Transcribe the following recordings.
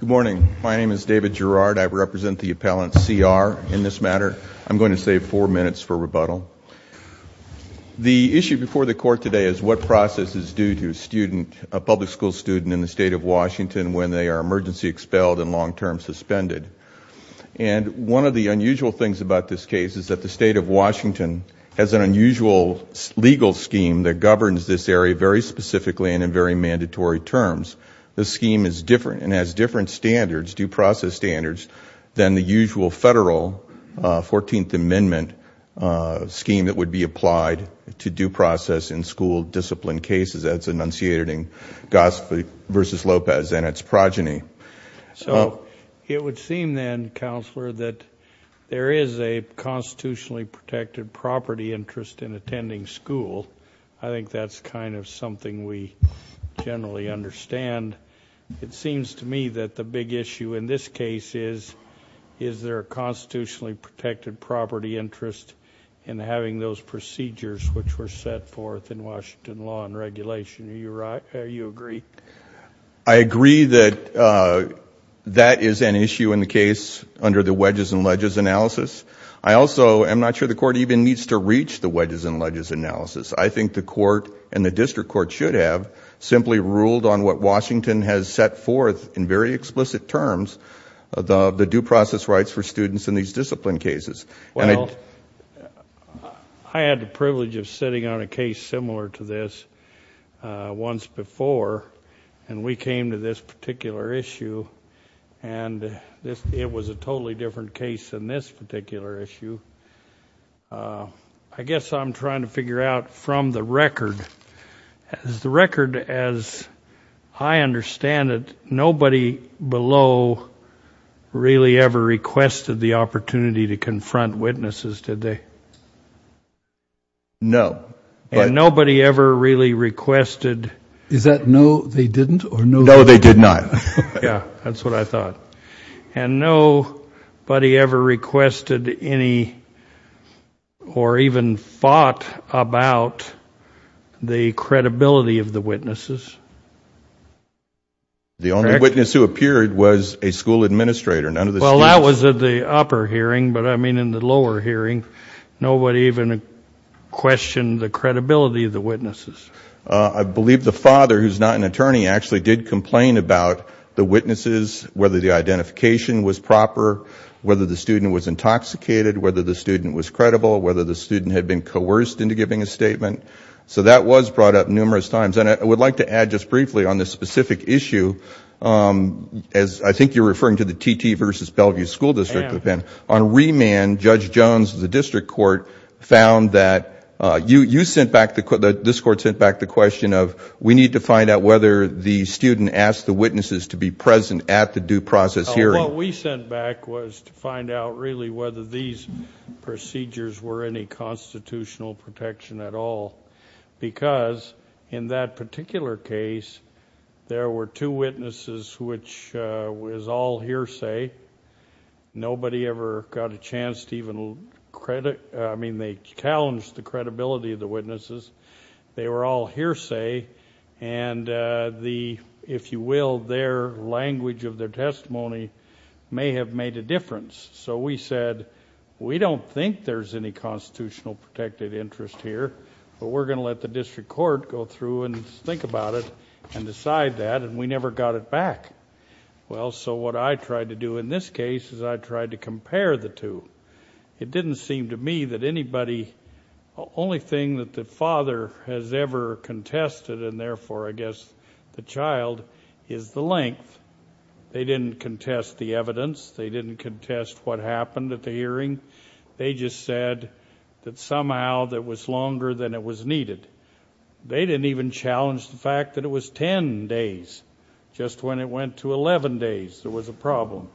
Good morning. My name is David Gerard. I represent the appellant C. R. in this matter. I'm going to save four minutes for rebuttal. The issue before the court today is what process is due to a public school student in the state of Washington when they are emergency expelled and long-term suspended. And one of the unusual things about this case is that the state of Washington has an unusual legal scheme that governs this area very specifically and in very mandatory terms. The scheme is different and has different standards, due process standards, than the usual federal 14th Amendment scheme that would be applied to due process in school discipline cases as enunciated in Gossip v. Lopez and its progeny. So it would seem then, Counselor, that there is a constitutionally protected property interest in attending school. I think that's kind of something we generally understand. It seems to me that the big issue in this case is, is there a constitutionally protected property interest in having those procedures which were set forth in Washington law and regulation. Do you agree? I agree that that is an issue in the case under the wedges and ledges analysis. I also, I'm not sure the court even needs to reach the wedges and ledges analysis. I think the court and the district court should have simply ruled on what Washington has set forth in very explicit terms, the due process rights for students in these discipline cases. Well, I had the privilege of sitting on a case similar to this once before and we came to this particular issue and it was a totally different case than this particular issue. I guess I'm trying to figure out from the record, the record as I understand it, nobody below really ever requested the opportunity to confront witnesses, did they? No. And nobody ever really requested? Is that no, they didn't or no, they did not? No, they did not. Yeah, that's what I thought. And nobody ever requested any or even fought about the credibility of the witnesses? The only witness who appeared was a school administrator, none of the students. Well, that was at the upper hearing, but I mean in the lower hearing, nobody even questioned the credibility of the witnesses. I believe the father, who's not an attorney, actually did complain about the witnesses, whether the identification was proper, whether the student was intoxicated, whether the student was credible, whether the student had been coerced into giving a statement. So that was brought up numerous times. And I would like to add just briefly on this specific issue, as I think you're referring to the TT versus Bellevue School District, on remand, Judge sent back the question of, we need to find out whether the student asked the witnesses to be present at the due process hearing. What we sent back was to find out really whether these procedures were any constitutional protection at all, because in that particular case, there were two witnesses, which was all hearsay. Nobody ever got a chance to even, I mean, they challenged the credibility of the witnesses. They were all hearsay, and the, if you will, their language of their testimony may have made a difference. So we said, we don't think there's any constitutional protected interest here, but we're going to let the district court go through and think about it and decide that, and we never got it back. Well, so what I tried to do in this case is I tried to compare the two. It didn't seem to me that anybody, only thing that the father has ever contested, and therefore I guess the child, is the length. They didn't contest the evidence. They didn't contest what happened at the hearing. They just said that somehow that was longer than it was needed. They didn't even challenge the fact that it was 10 days, just when it went to 11 days, there was a problem.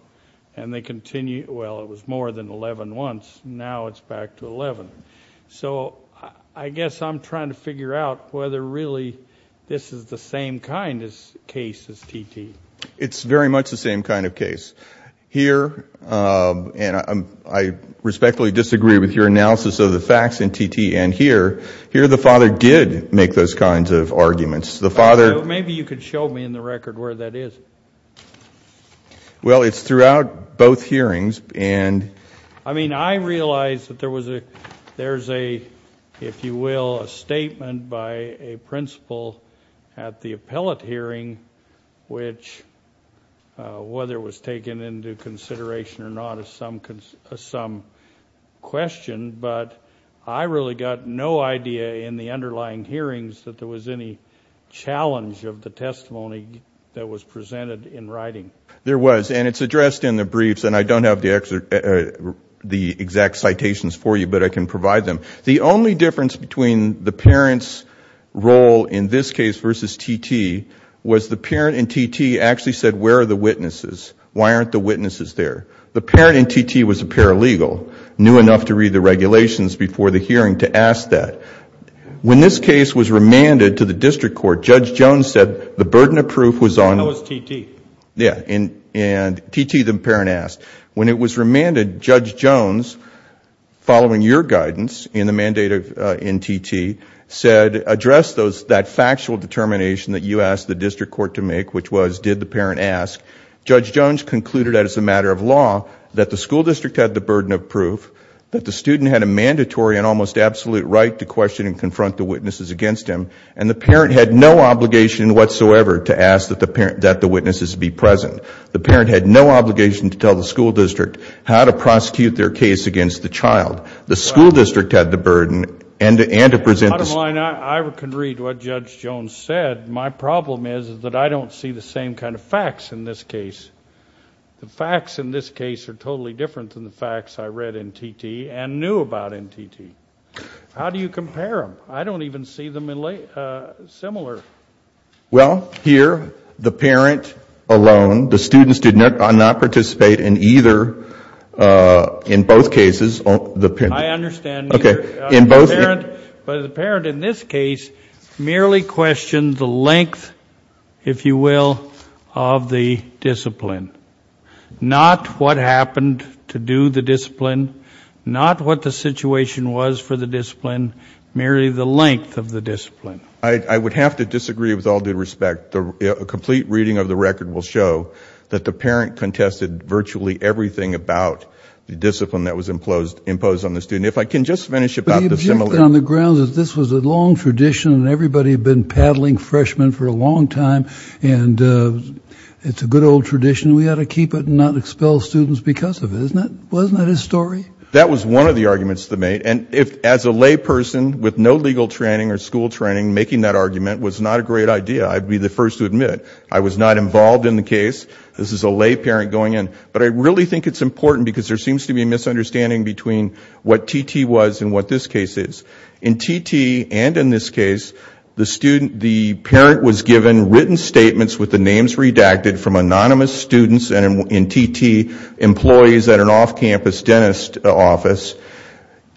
And they continued, well, it was more than 11 months. Now it's back to 11. So I guess I'm trying to figure out whether really this is the same kind of case as T.T. It's very much the same kind of case. Here, and I respectfully disagree with your analysis of the facts in T.T. and here, here the father did make those kinds of arguments. The father Maybe you could show me in the record where that is. Well it's throughout both hearings and I mean I realize that there was a, there's a, if you will, a statement by a principal at the appellate hearing which, whether it was taken into consideration or not is some question, but I really got no idea in the underlying hearings that there was any challenge of the testimony that was presented in writing. There was and it's addressed in the briefs and I don't have the exact citations for you, but I can provide them. The only difference between the parent's role in this case versus T.T. was the parent in T.T. actually said where are the witnesses? Why aren't the witnesses there? The parent in T.T. was a paralegal, knew enough to read the regulations before the hearing to ask that. When this case was remanded to the district court, Judge Jones said the burden of proof was on How was T.T.? Yeah, and T.T. the parent asked. When it was remanded, Judge Jones, following your guidance in the mandate in T.T. said address that factual determination that you asked the district court to make which was did the parent ask. Judge Jones concluded that it's a matter of almost absolute right to question and confront the witnesses against him and the parent had no obligation whatsoever to ask that the witnesses be present. The parent had no obligation to tell the school district how to prosecute their case against the child. The school district had the burden and to present Bottom line, I can read what Judge Jones said. My problem is that I don't see the same kind of facts in this case. The facts in this case are totally different than the facts I read in T.T. and knew about in T.T. How do you compare them? I don't even see them similar. Well, here, the parent alone, the students did not participate in either, in both cases, the parent I understand. Okay. In both But the parent in this case merely questioned the length, if you will, of the discipline. Not what happened to do the discipline, not what the situation was for the discipline, merely the length of the discipline. I would have to disagree with all due respect. A complete reading of the record will show that the parent contested virtually everything about the discipline that was imposed on the student. If I can just finish about the But the objective on the ground is this was a long tradition and everybody had been paddling for a long time and it's a good old tradition. We ought to keep it and not expel students because of it, isn't it? Wasn't that his story? That was one of the arguments they made. And as a lay person with no legal training or school training, making that argument was not a great idea. I'd be the first to admit I was not involved in the case. This is a lay parent going in. But I really think it's important because there seems to be a misunderstanding between what T.T. was and what this case is. In T.T. and in this case, the parent was given written statements with the names redacted from anonymous students and in T.T. employees at an off-campus dentist office.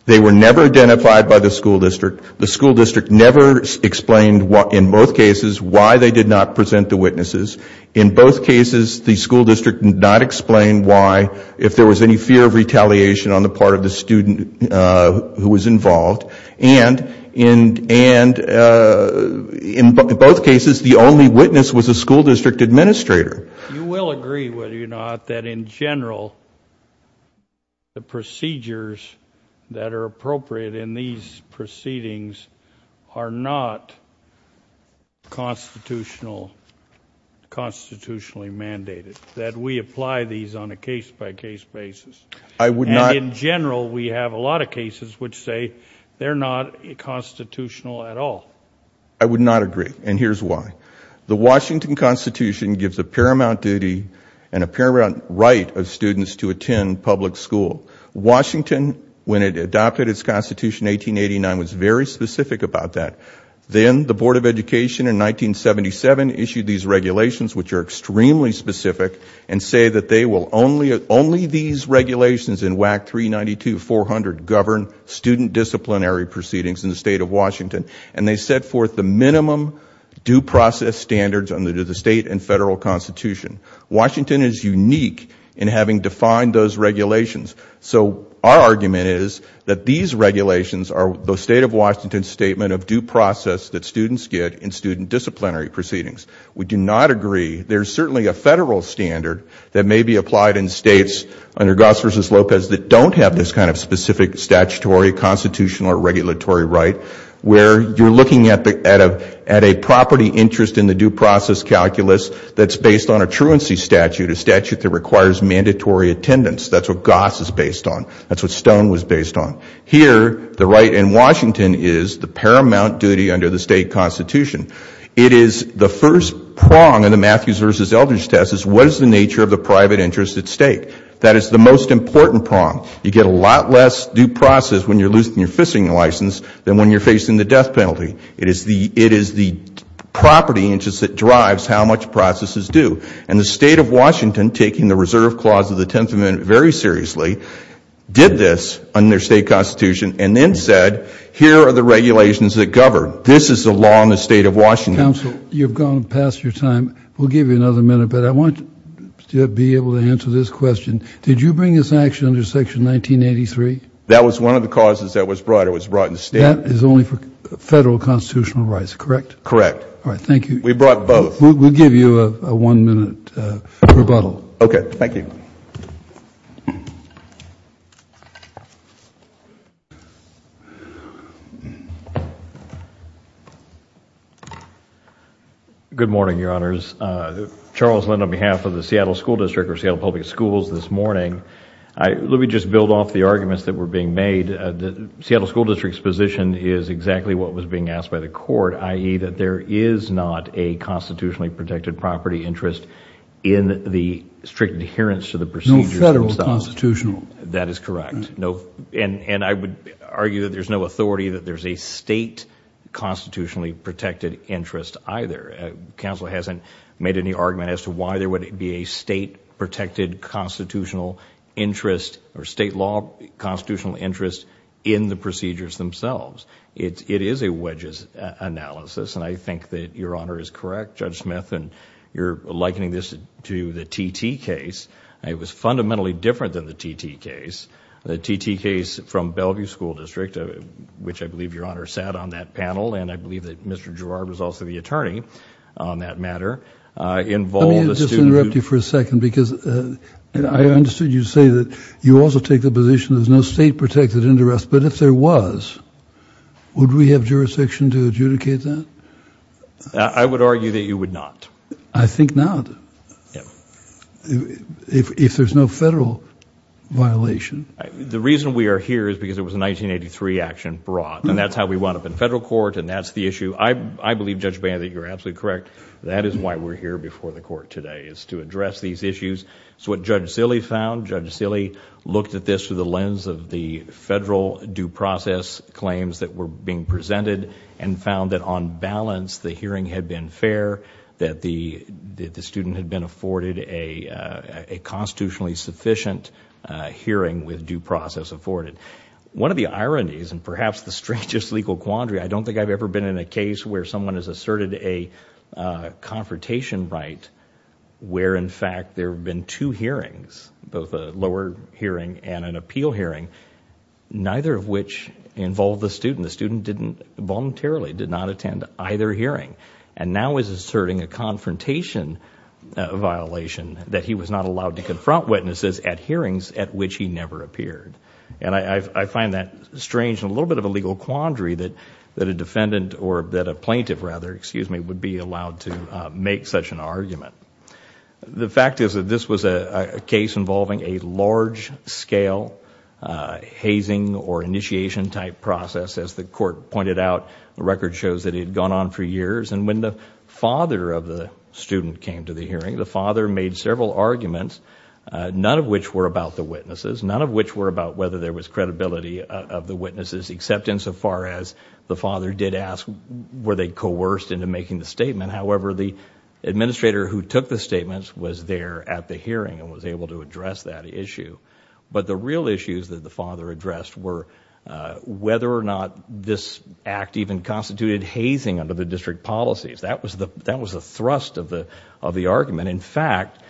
They were never identified by the school district. The school district never explained in both cases why they did not present the witnesses. In both cases, the school district did not explain why, if there was any fear of retaliation on the part of the student who was involved. And in both cases, the only witness was the school district administrator. You will agree, will you not, that in general, the procedures that are appropriate in these proceedings are not constitutionally mandated. That we apply these on a case-by-case basis. And in general, we have a lot of cases which say they're not constitutional at all. I would not agree. And here's why. The Washington Constitution gives a paramount duty and a paramount right of students to attend public school. Washington, when it adopted its Constitution in 1889, was very specific about that. Then the Board of Education in 1977 issued these regulations. Only these regulations in WAC 392-400 govern student disciplinary proceedings in the state of Washington. And they set forth the minimum due process standards under the state and federal Constitution. Washington is unique in having defined those regulations. So our argument is that these regulations are the state of Washington's statement of due process that students get in student disciplinary proceedings. We do not agree. There's certainly a federal standard that may be applied in states under Goss v. Lopez that don't have this kind of specific statutory, constitutional, or regulatory right where you're looking at a property interest in the due process calculus that's based on a truancy statute, a statute that requires mandatory attendance. That's what Goss is based on. That's what Stone was based on. Here, the right in Washington is the paramount duty under the state Constitution. It is the first prong in the Matthews v. Eldridge test is what is the nature of the private interest at stake. That is the most important prong. You get a lot less due process when you're losing your fishing license than when you're facing the death penalty. It is the property interest that drives how much process is due. And the state of Washington, taking the Reserve Clause of the 10th Amendment very seriously, did this under state Constitution and then said here are the regulations that govern. This is the law in the state of Washington. Mr. Counsel, you've gone past your time. We'll give you another minute, but I want to be able to answer this question. Did you bring this action under Section 1983? That was one of the causes that was brought. It was brought in state. That is only for federal constitutional rights, correct? Correct. All right. Thank you. We brought both. We'll give you a one-minute rebuttal. Okay. Thank you. Good morning, Your Honors. Charles Lind on behalf of the Seattle School District or Seattle Public Schools this morning. Let me just build off the arguments that were being made. Seattle School District's position is exactly what was being asked by the court, i.e., that there is not a constitutionally protected property interest in the strict adherence to the procedures themselves. No federal constitutional. That is correct. And I would argue that there's no authority that there's a state constitutionally protected interest either. Counsel hasn't made any argument as to why there would be a state protected constitutional interest or state law constitutional interest in the I think that Your Honor is correct, Judge Smith, in your likening this to the TT case. It was fundamentally different than the TT case. The TT case from Bellevue School District, which I believe Your Honor sat on that panel, and I believe that Mr. Girard was also the attorney on that matter, involved a student... Let me just interrupt you for a second because I understood you say that you also take the position there's no state protected interest, but if there was, would we have jurisdiction to adjudicate that? I would argue that you would not. I think not. If there's no federal violation... The reason we are here is because it was a 1983 action brought, and that's how we wound up in federal court, and that's the issue. I believe, Judge Bannon, that you're absolutely correct. That is why we're here before the court today, is to address these issues. It's what Judge Silley found. Judge Silley looked at this through the lens of the federal due process claims that were being presented, and found that on balance the hearing had been fair, that the student had been afforded a constitutionally sufficient hearing with due process afforded. One of the ironies, and perhaps the strangest legal quandary, I don't think I've ever been in a case where someone has asserted a confrontation right, where in fact there have been two hearings, both a lower hearing and an appeal hearing, neither of which involved the student. The student voluntarily did not attend either hearing, and now is asserting a confrontation violation, that he was not allowed to confront witnesses at hearings at which he never appeared. I find that strange, and a little bit of a legal quandary, that a defendant, or that a plaintiff rather, excuse me, would be allowed to make such an argument. The fact is that this was a case involving a large scale hazing or initiation type process. As the court pointed out, the record shows that it had gone on for years, and when the father of the student came to the hearing, the father made several arguments, none of which were about the witnesses, none of which were about whether there was credibility of the witnesses, except insofar as the father did ask were they coerced into making the statement. He took the statements, was there at the hearing, and was able to address that issue. The real issues that the father addressed were whether or not this act even constituted hazing under the district policies. That was the thrust of the argument. In fact,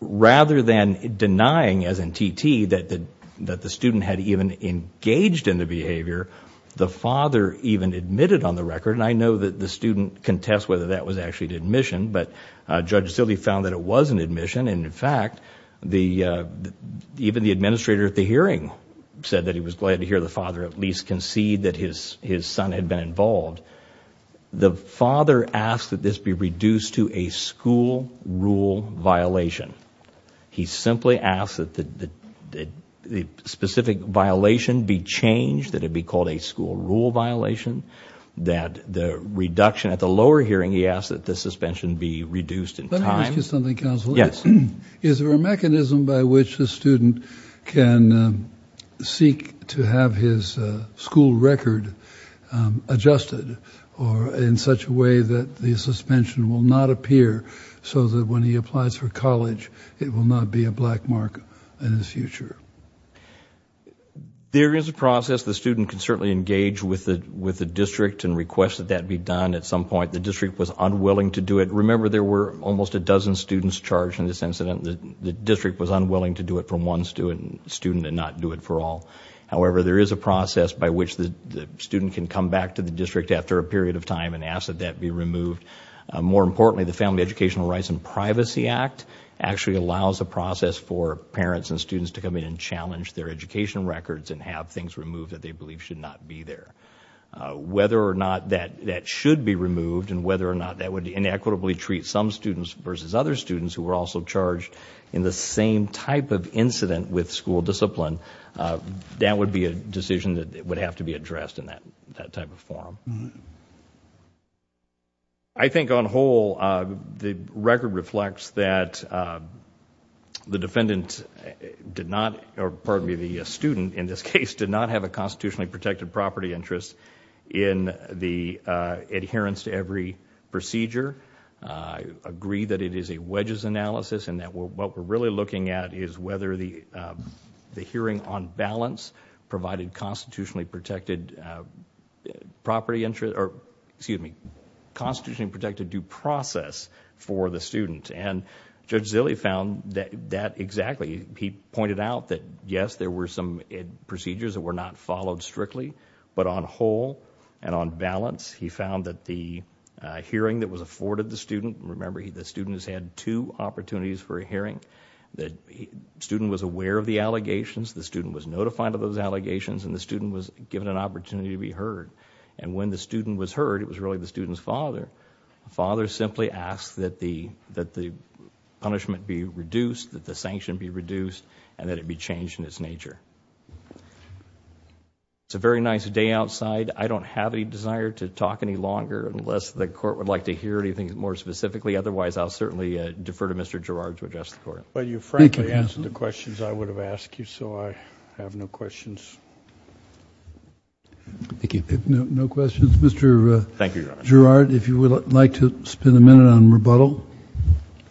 rather than denying, as in TT, that the student had even engaged in the behavior, the father even admitted on the record, and I know that the student contests whether that was actually an admission, but Judge Zille found that it was an admission. In fact, even the administrator at the hearing said that he was glad to hear the father at least concede that his son had been involved. The father asked that this be reduced to a school rule violation. He simply asked that the specific violation be changed, that it be called a school rule violation, that the reduction at the lower hearing, he asked that the suspension be reduced in time. Let me ask you something, Counselor. Yes. Is there a mechanism by which the student can seek to have his school record adjusted in such a way that the suspension will not appear so that when he applies for college it will not be a black mark in his future? There is a process. The student can certainly engage with the district and request that that be done at some point. The district was unwilling to do it. Remember, there were almost a dozen students charged in this incident. The district was unwilling to do it for one student and not do it for all. However, there is a process by which the student can come back to the district after a period of time and ask that that be removed. More importantly, the Family Educational Rights and Privacy Act actually allows a process for parents and students to come in and challenge their education records and have things removed that they believe should not be there. Whether or not that should be removed and whether or not that would inequitably treat some students versus other students who were also charged in the same type of incident with school discipline, that would be a decision that would have to be addressed in that type of form. I think on whole, the record reflects that the student in this case did not have a constitutionally protected property interest in the adherence to every procedure. I agree that it is a wedges analysis and that what we're really looking at is whether the hearing on balance provided constitutionally protected due process for the student. Judge Zille found that exactly. He pointed out that yes, there were some procedures that were not followed strictly, but on whole and on balance, he found that the hearing that was afforded the student... Remember, the student has had two opportunities for a hearing. The student was aware of the allegations. The student was notified of those allegations and the student was given an opportunity to be heard. When the student was heard, it was really the student's father. The father simply asked that the punishment be reduced, that the sanction be reduced, and that it be changed in its nature. It's a very nice day outside. I don't have any desire to talk any longer unless the court would like to hear anything more specifically. Otherwise, I'll certainly defer to Mr. Gerard to address the court. You frankly answered the questions I would have asked you, so I have no questions. Thank you. No questions. Mr. Gerard, if you would like to spend a minute on rebuttal?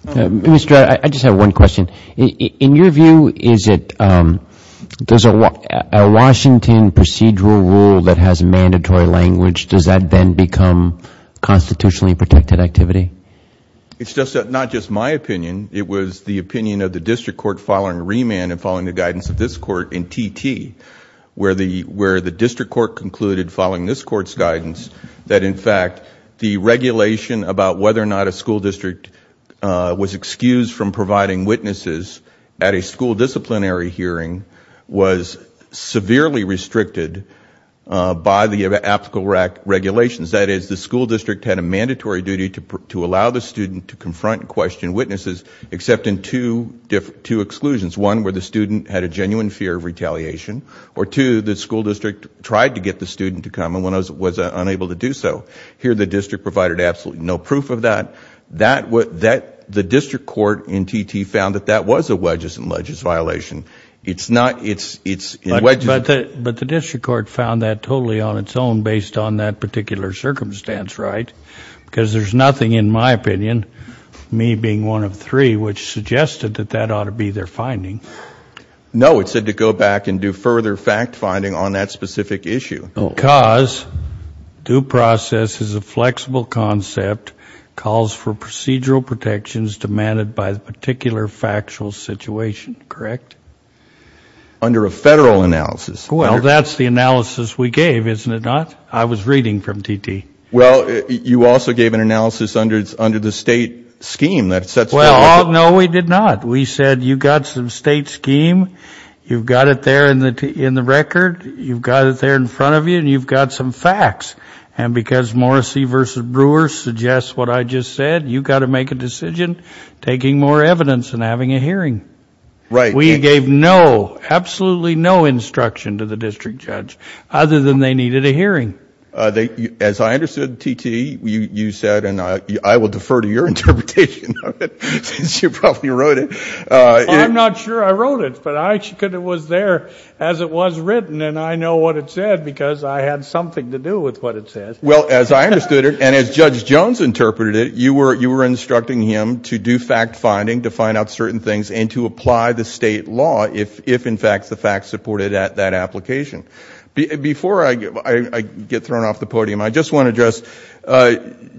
Mr. Gerard, I just have one question. In your view, is it... does a Washington procedural rule that has a mandatory language, does that then become constitutionally protected activity? It's not just my opinion. It was the opinion of the district court following remand and following the guidance of this court in T.T., where the district court concluded following this court's guidance that, in fact, the regulation about whether or not a school district was excused from providing witnesses at a school disciplinary hearing was severely restricted by the applicable regulations. That is, the school district had a mandatory duty to allow the student to confront and question witnesses, except in two exclusions. One, where the student had a genuine fear of retaliation, or two, the school district tried to get the student to come and was unable to do so. Here, the district provided absolutely no proof of that. The district court in T.T. found that that was a wedges and ledges violation. It's not... But the district court found that totally on its own based on that particular circumstance, right? Because there's nothing in my opinion, me being one of three, which suggested that that ought to be their finding. No, it said to go back and do further fact-finding on that specific issue. Because due process is a flexible concept, calls for procedural protections demanded by the particular factual situation, correct? Under a Federal analysis. Well, that's the analysis we gave, isn't it not? I was reading from T.T. Well, you also gave an analysis under the state scheme that sets... Well, no, we did not. We said you've got some state scheme, you've got it there in the record, you've got it there in front of you, and you've got some facts. And because Morrissey v. Brewer suggests what I just said, you've got to make a decision taking more evidence than having a hearing. Right. We gave no, absolutely no instruction to the district judge, other than they needed a hearing. As I understood, T.T., you said, and I will defer to your interpretation of it, since you probably wrote it... I'm not sure I wrote it, but it was there as it was written, and I know what it said, because I had something to do with what it said. Well, as I understood it, and as Judge Jones interpreted it, you were instructing him to do fact-finding, to find out certain things, and to apply the state law, if in fact the facts supported that application. Before I get thrown off the podium, I just want to address,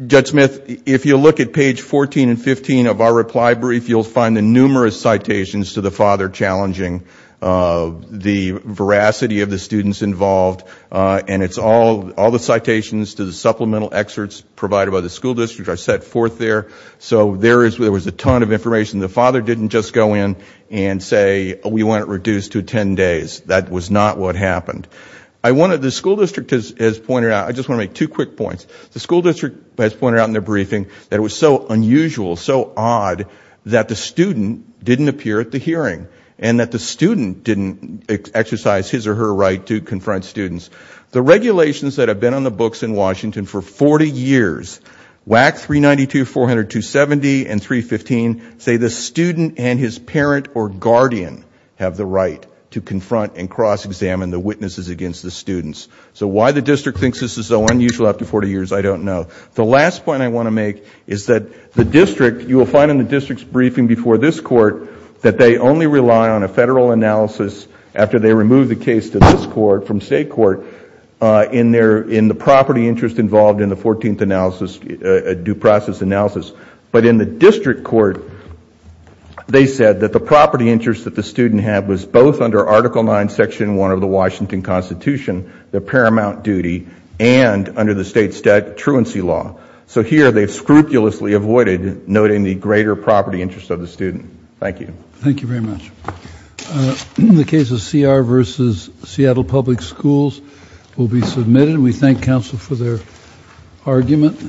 Judge Smith, if you look at page 14 and 15 of our reply brief, you'll find the numerous citations to the father challenging the veracity of the students involved, and it's all the citations to the supplemental excerpts provided by the school district are set forth there. So there was a ton of information. The father didn't just go in and say, we want it reduced to 10 days. That was not what happened. The school district has pointed out... I just want to make two quick points. The school district has pointed out in their briefing that it was so unusual, so odd, that the student didn't appear at the hearing, and that the student didn't exercise his or her right to confront students. The regulations that have been on the books in Washington for 40 years, WAC 392, 400, 270, and 315, say the student and his parent or guardian have the right to confront and cross-examine the witnesses against the students. So why the district thinks this is so unusual after 40 years, I don't know. The last point I want to make is that the district, you will find in the district's briefing before this court, that they only rely on a federal analysis after they remove the case to this court, from state court, in the property interest involved in the 14th analysis, due process analysis. But in the district court, they said that the property interest that the student had was both under Article 9, Section 1 of the Washington Constitution, the paramount duty, and under the state statutory law. So here, they've scrupulously avoided noting the greater property interest of the student. Thank you. Thank you very much. The case of CR versus Seattle Public Schools will be submitted. We thank counsel for their argument.